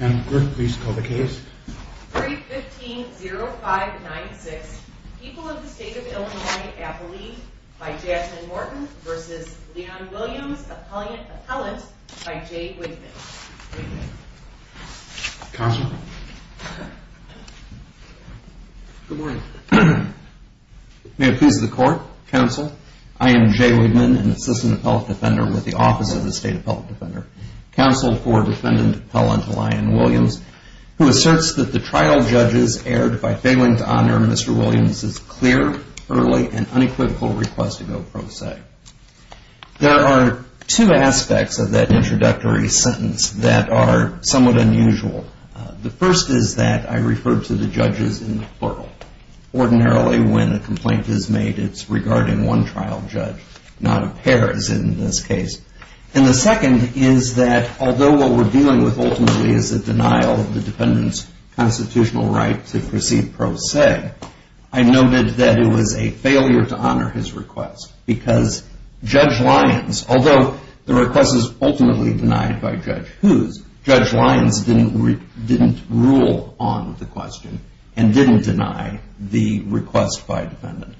315-0596 People of the State of Illinois Appellee by Jasmine Morton v. Leon Williams Appellant by Jay Wigman May it please the Court, Counsel, I am Jay Wigman, an assistant appellate defender with the Office of the State Appellate Defender. Counsel for Defendant Appellant Leon Williams, who asserts that the trial judges erred by failing to honor Mr. Williams' clear, early, and unequivocal request to go pro se. There are two aspects of that introductory sentence that are somewhat unusual. The first is that I referred to the judges in the plural. Ordinarily, when a complaint is made, it's regarding one trial judge, not a pair, as in this case. And the second is that although what we're dealing with ultimately is the denial of the defendant's constitutional right to proceed pro se, I noted that it was a failure to honor his request. Because Judge Lyons, although the request is ultimately denied by Judge Hughes, Judge Lyons didn't rule on the question and didn't deny the request by a defendant.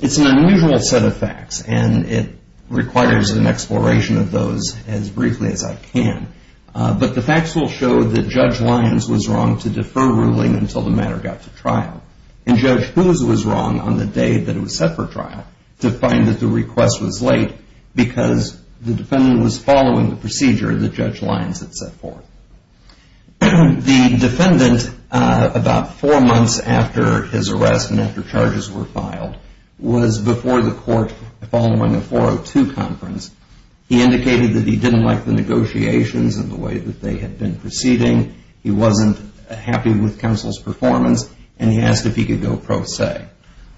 It's an unusual set of facts, and it requires an exploration of those as briefly as I can. But the facts will show that Judge Lyons was wrong to defer ruling until the matter got to trial. And Judge Hughes was wrong on the day that it was set for trial to find that the request was late because the defendant was following the procedure that Judge Lyons had set forth. The defendant, about four months after his arrest and after charges were filed, was before the court following a 402 conference. He indicated that he didn't like the negotiations and the way that they had been proceeding. He wasn't happy with counsel's performance, and he asked if he could go pro se.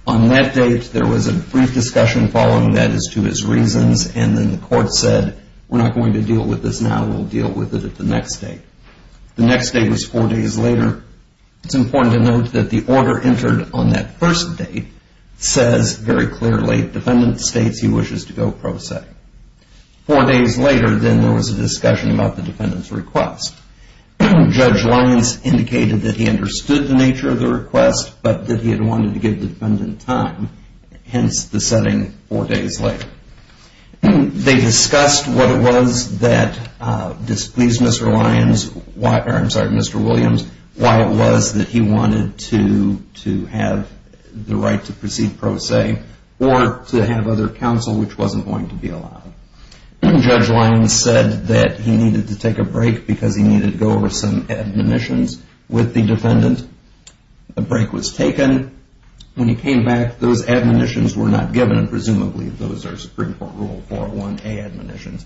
On that date, there was a brief discussion following that as to his reasons, and then the court said, we're not going to deal with this now, we'll deal with it at the next date. The next date was four days later. It's important to note that the order entered on that first date says very clearly, defendant states he wishes to go pro se. Four days later, then there was a discussion about the defendant's request. Judge Lyons indicated that he understood the nature of the request, but that he had wanted to give the defendant time, hence the setting four days later. They discussed what it was that displeased Mr. Williams, why it was that he wanted to have the right to proceed pro se, or to have other counsel which wasn't going to be allowed. Judge Lyons said that he needed to take a break because he needed to go over some admonitions with the defendant. A break was taken. When he came back, those admonitions were not given, and presumably those are Supreme Court Rule 401A admonitions.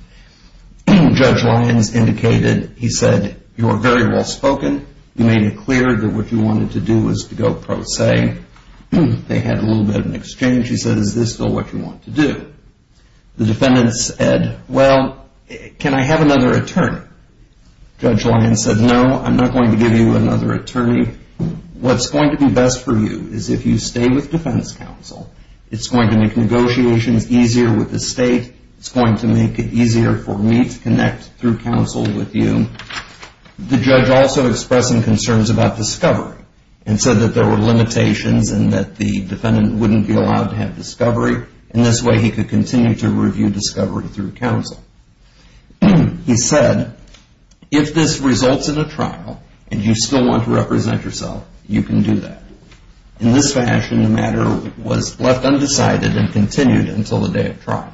Judge Lyons indicated, he said, you are very well spoken. You made it clear that what you wanted to do was to go pro se. They had a little bit of an exchange. He said, is this still what you want to do? The defendant said, well, can I have another attorney? Judge Lyons said, no, I'm not going to give you another attorney. What's going to be best for you is if you stay with defense counsel. It's going to make negotiations easier with the state. It's going to make it easier for me to connect through counsel with you. The judge also expressed some concerns about discovery and said that there were limitations and that the defendant wouldn't be allowed to have discovery. In this way, he could continue to review discovery through counsel. He said, if this results in a trial and you still want to represent yourself, you can do that. In this fashion, the matter was left undecided and continued until the day of trial.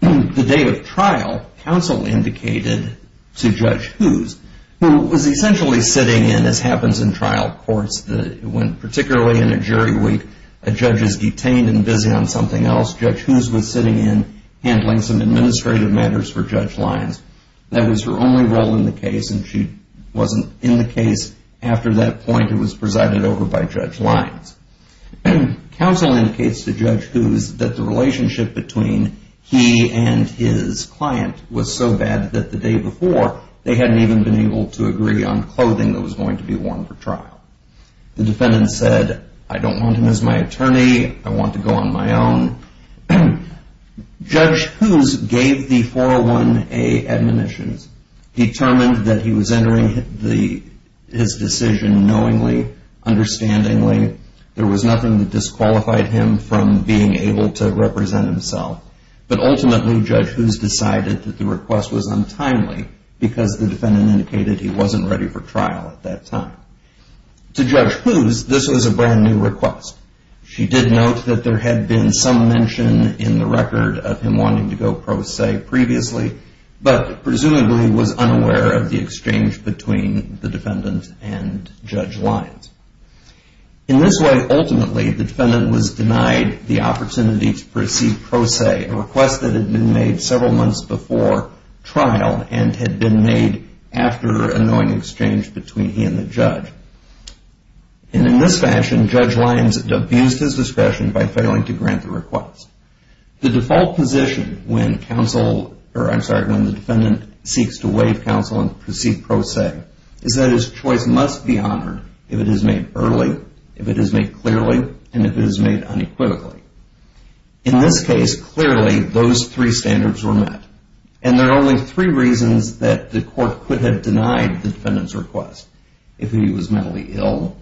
The day of trial, counsel indicated to Judge Hoos, who was essentially sitting in, as happens in trial courts, particularly in a jury week, a judge is detained and busy on something else. Judge Hoos was sitting in handling some administrative matters for Judge Lyons. That was her only role in the case, and she wasn't in the case after that point. It was presided over by Judge Lyons. Counsel indicates to Judge Hoos that the relationship between he and his client was so bad that the day before, they hadn't even been able to agree on clothing that was going to be worn for trial. The defendant said, I don't want him as my attorney. I want to go on my own. Judge Hoos gave the 401A admonitions. He determined that he was entering his decision knowingly, understandingly. There was nothing that disqualified him from being able to represent himself. But ultimately, Judge Hoos decided that the request was untimely because the defendant indicated he wasn't ready for trial at that time. To Judge Hoos, this was a brand new request. She did note that there had been some mention in the record of him wanting to go pro se previously, but presumably was unaware of the exchange between the defendant and Judge Lyons. In this way, ultimately, the defendant was denied the opportunity to proceed pro se, a request that had been made several months before trial and had been made after a knowing exchange between he and the judge. In this fashion, Judge Lyons abused his discretion by failing to grant the request. The default position when the defendant seeks to waive counsel and proceed pro se is that his choice must be honored if it is made early, if it is made clearly, and if it is made unequivocally. In this case, clearly, those three standards were met. And there are only three reasons that the court could have denied the defendant's request. If he was mentally ill,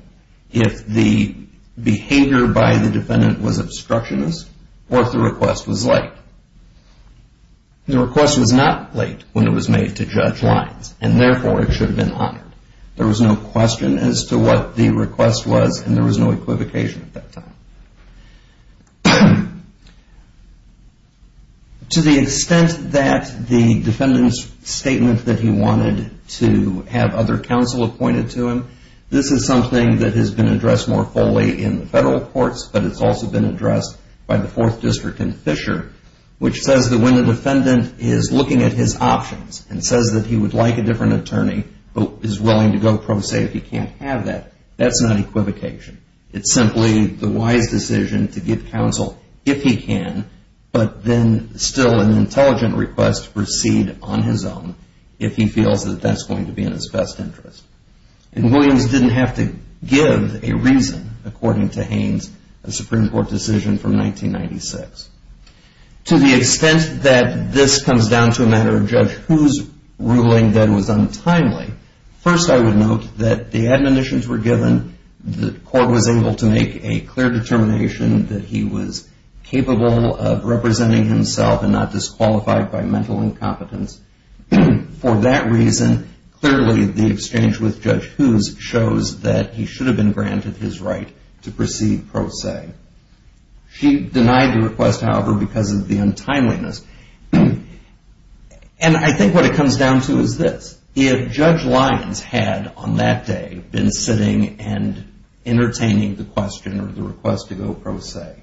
if the behavior by the defendant was obstructionist, or if the request was late. The request was not late when it was made to Judge Lyons, and therefore it should have been honored. There was no question as to what the request was, and there was no equivocation at that time. To the extent that the defendant's statement that he wanted to have other counsel appointed to him, this is something that has been addressed more fully in the federal courts, but it's also been addressed by the Fourth District and Fisher, which says that when the defendant is looking at his options and says that he would like a different attorney, but is willing to go pro se if he can't have that, that's not equivocation. It's simply the wise decision to give counsel if he can, but then still an intelligent request to proceed on his own if he feels that that's going to be in his best interest. And Williams didn't have to give a reason, according to Haynes, a Supreme Court decision from 1996. To the extent that this comes down to a matter of judge who's ruling that was untimely, first I would note that the admonitions were given, the court was able to make a clear determination that he was capable of representing himself and not disqualified by mental incompetence. For that reason, clearly the exchange with judge who's shows that he should have been granted his right to proceed pro se. She denied the request, however, because of the untimeliness. And I think what it comes down to is this. If judge Lyons had, on that day, been sitting and entertaining the question or the request to go pro se,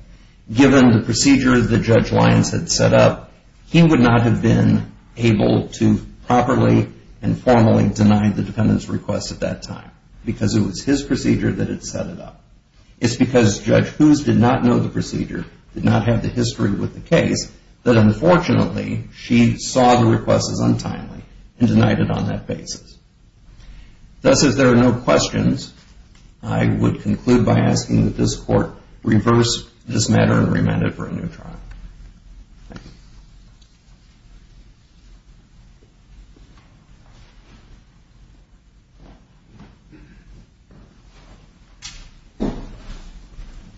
given the procedure that judge Lyons had set up, he would not have been able to properly and formally deny the defendant's request at that time because it was his procedure that had set it up. It's because judge who's did not know the procedure, did not have the history with the case, that, unfortunately, she saw the request as untimely and denied it on that basis. Thus, if there are no questions, I would conclude by asking that this court reverse this matter and remand it for a new trial.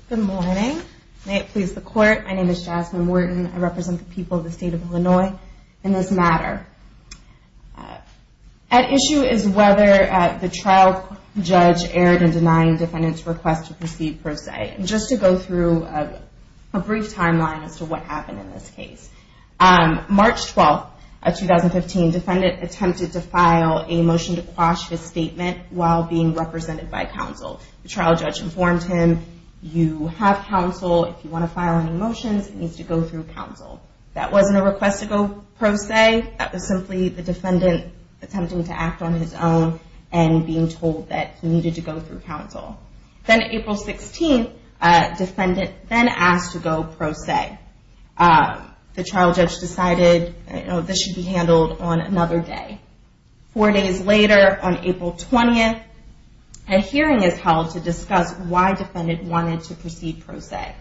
Good morning. May it please the court. My name is Jasmine Wharton. I represent the people of the state of Illinois in this matter. At issue is whether the trial judge erred in denying defendant's request to proceed pro se. Just to go through a brief timeline as to what happened in this case. March 12, 2015, defendant attempted to file a motion to quash his statement while being represented by counsel. The trial judge informed him, you have counsel. If you want to file any motions, you need to go through counsel. That wasn't a request to go pro se. That was simply the defendant attempting to act on his own and being told that he needed to go through counsel. Then April 16, defendant then asked to go pro se. The trial judge decided this should be handled on another day. Four days later, on April 20th, a hearing is held to discuss why defendant wanted to proceed pro se.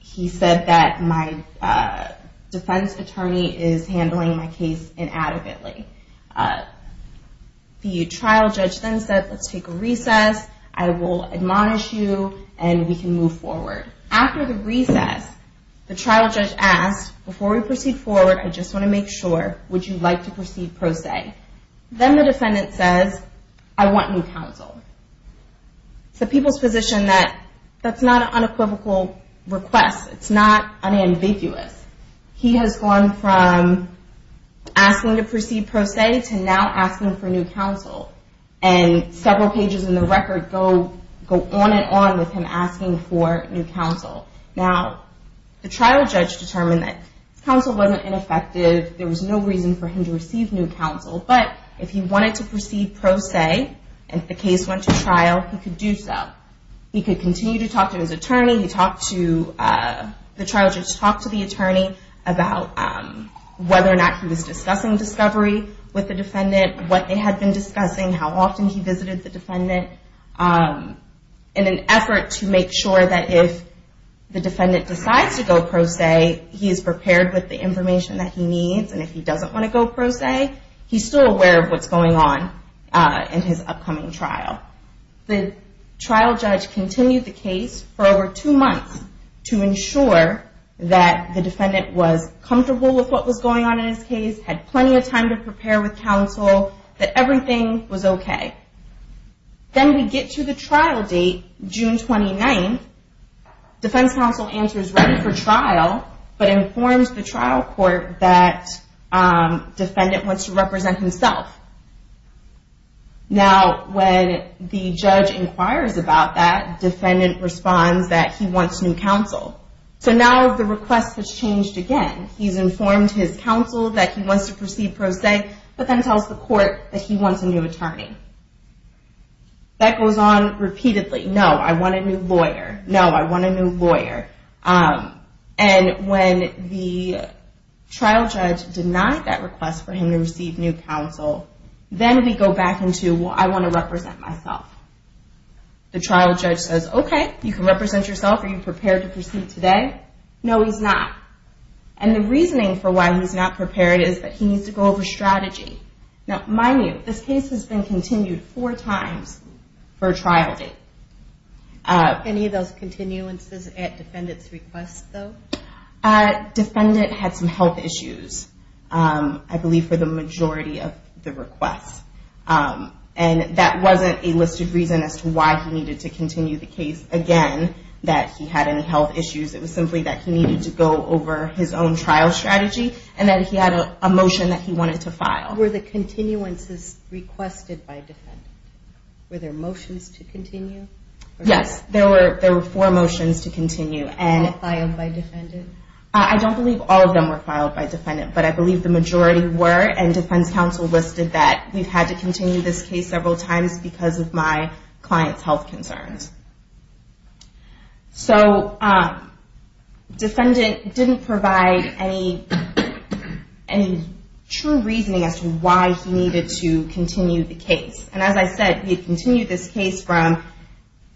He said that my defense attorney is handling my case inadequately. The trial judge then said, let's take a recess. I will admonish you and we can move forward. After the recess, the trial judge asked, before we proceed forward, I just want to make sure, would you like to proceed pro se? Then the defendant says, I want new counsel. It's the people's position that that's not an unequivocal request. It's not unambiguous. He has gone from asking to proceed pro se to now asking for new counsel. And several pages in the record go on and on with him asking for new counsel. Now, the trial judge determined that counsel wasn't ineffective. There was no reason for him to receive new counsel. But if he wanted to proceed pro se and the case went to trial, he could do so. He could continue to talk to his attorney. The trial judge talked to the attorney about whether or not he was discussing discovery with the defendant, what they had been discussing, how often he visited the defendant, in an effort to make sure that if the defendant decides to go pro se, he is prepared with the information that he needs. And if he doesn't want to go pro se, he's still aware of what's going on in his upcoming trial. The trial judge continued the case for over two months to ensure that the defendant was comfortable with what was going on in his case, had plenty of time to prepare with counsel, that everything was okay. Then we get to the trial date, June 29th. Defense counsel answers ready for trial, but informs the trial court that defendant wants to represent himself. Now, when the judge inquires about that, defendant responds that he wants new counsel. So now the request has changed again. He's informed his counsel that he wants to proceed pro se, but then tells the court that he wants a new attorney. That goes on repeatedly. No, I want a new lawyer. No, I want a new lawyer. And when the trial judge denied that request for him to receive new counsel, then we go back into, well, I want to represent myself. The trial judge says, okay, you can represent yourself. Are you prepared to proceed today? No, he's not. And the reasoning for why he's not prepared is that he needs to go over strategy. Now, mind you, this case has been continued four times for a trial date. Any of those continuances at defendant's request, though? Defendant had some health issues, I believe, for the majority of the requests. And that wasn't a listed reason as to why he needed to continue the case again, that he had any health issues. It was simply that he needed to go over his own trial strategy and that he had a motion that he wanted to file. Were the continuances requested by defendant? Were there motions to continue? Yes, there were four motions to continue. And filed by defendant? I don't believe all of them were filed by defendant, but I believe the majority were. And defense counsel listed that we've had to continue this case several times because of my client's health concerns. So, defendant didn't provide any true reasoning as to why he needed to continue the case. And as I said, he continued this case from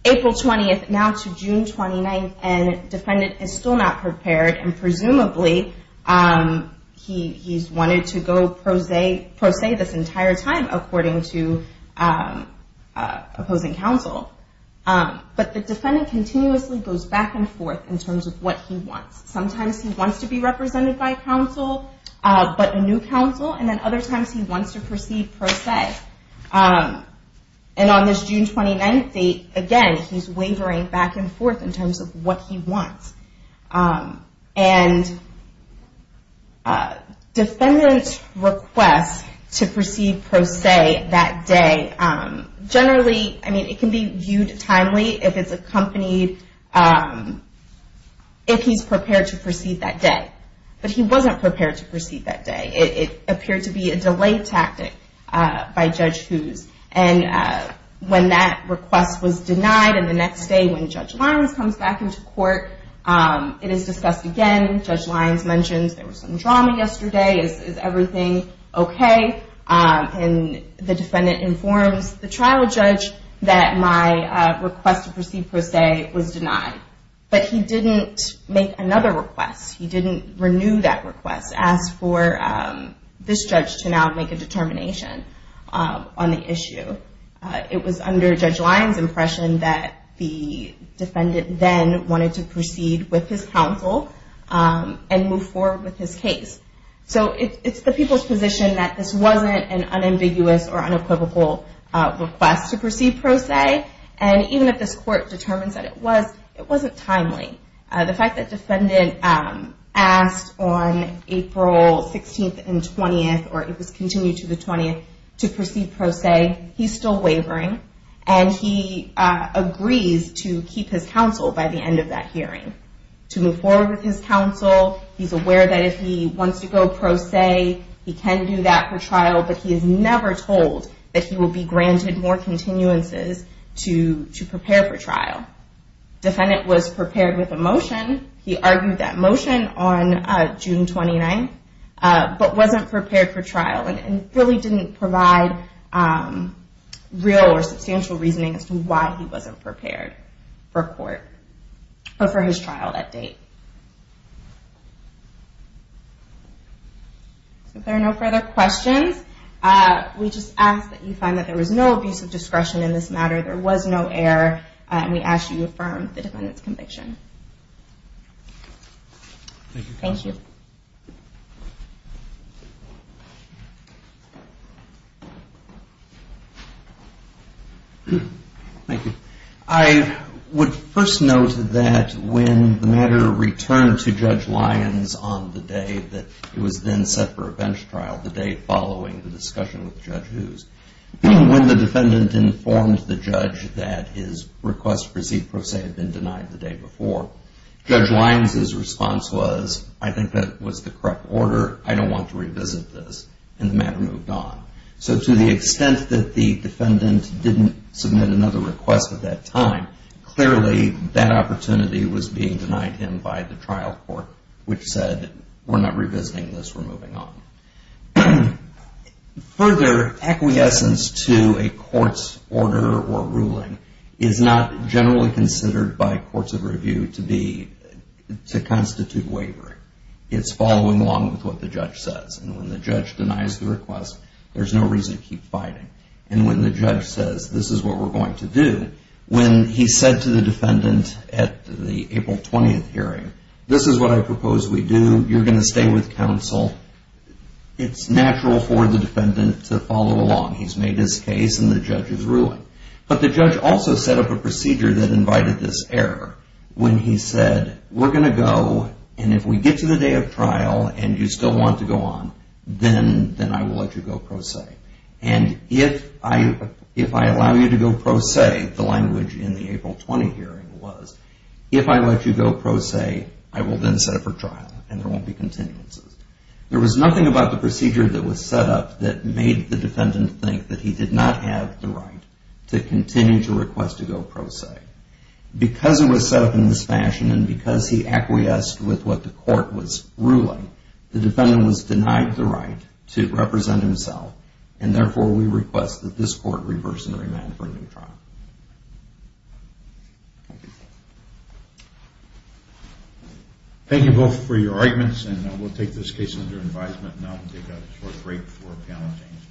April 20th now to June 29th, and defendant is still not prepared, and presumably he's wanted to go pro se this entire time, according to opposing counsel. But the defendant continuously goes back and forth in terms of what he wants. Sometimes he wants to be represented by counsel, but a new counsel, and then other times he wants to proceed pro se. And on this June 29th date, again, he's wavering back and forth in terms of what he wants. And defendant's request to proceed pro se that day, generally, I mean, it can be viewed timely if it's accompanied, if he's prepared to proceed that day. But he wasn't prepared to proceed that day. It appeared to be a delay tactic by Judge Hoos. And when that request was denied, and the next day when Judge Lyons comes back into court, it is discussed again. Judge Lyons mentions there was some drama yesterday. Is everything okay? And the defendant informs the trial judge that my request to proceed pro se was denied. But he didn't make another request. He didn't renew that request, ask for this judge to now make a determination on the issue. It was under Judge Lyons' impression that the defendant then wanted to proceed with his counsel and move forward with his case. So it's the people's position that this wasn't an unambiguous or unequivocal request to proceed pro se. And even if this court determines that it was, it wasn't timely. The fact that defendant asked on April 16th and 20th, or it was continued to the 20th, to proceed pro se, he's still wavering. And he agrees to keep his counsel by the end of that hearing. To move forward with his counsel. He's aware that if he wants to go pro se, he can do that for trial. But he is never told that he will be granted more continuances to prepare for trial. Defendant was prepared with a motion. He argued that motion on June 29th. But wasn't prepared for trial. And really didn't provide real or substantial reasoning as to why he wasn't prepared for court. Or for his trial at date. If there are no further questions, we just ask that you find that there was no abuse of discretion in this matter. There was no error. And we ask that you affirm the defendant's conviction. Thank you. Thank you, Counselor. Thank you. I would first note that when the matter returned to Judge Lyons on the day that it was then set for a bench trial, the day following the discussion with Judge Hughes. When the defendant informed the judge that his request to proceed pro se had been denied the day before. Judge Lyons' response was, I think that was the correct order. I don't want to revisit this. And the matter moved on. So to the extent that the defendant didn't submit another request at that time, clearly that opportunity was being denied him by the trial court. Which said, we're not revisiting this. We're moving on. Further, acquiescence to a court's order or ruling is not generally considered by courts of review to constitute wavering. It's following along with what the judge says. And when the judge denies the request, there's no reason to keep fighting. And when the judge says, this is what we're going to do. When he said to the defendant at the April 20th hearing, this is what I propose we do. You're going to stay with counsel. It's natural for the defendant to follow along. He's made his case and the judge is ruling. But the judge also set up a procedure that invited this error. When he said, we're going to go and if we get to the day of trial and you still want to go on, then I will let you go pro se. And if I allow you to go pro se, the language in the April 20th hearing was, if I let you go pro se, I will then set up for trial and there won't be continuances. There was nothing about the procedure that was set up that made the defendant think that he did not have the right to continue to request to go pro se. Because it was set up in this fashion and because he acquiesced with what the court was ruling, the defendant was denied the right to represent himself. And therefore, we request that this court reverse and remand for a new trial. Thank you. Thank you both for your arguments and we'll take this case under advisement now and take a short break for panel change.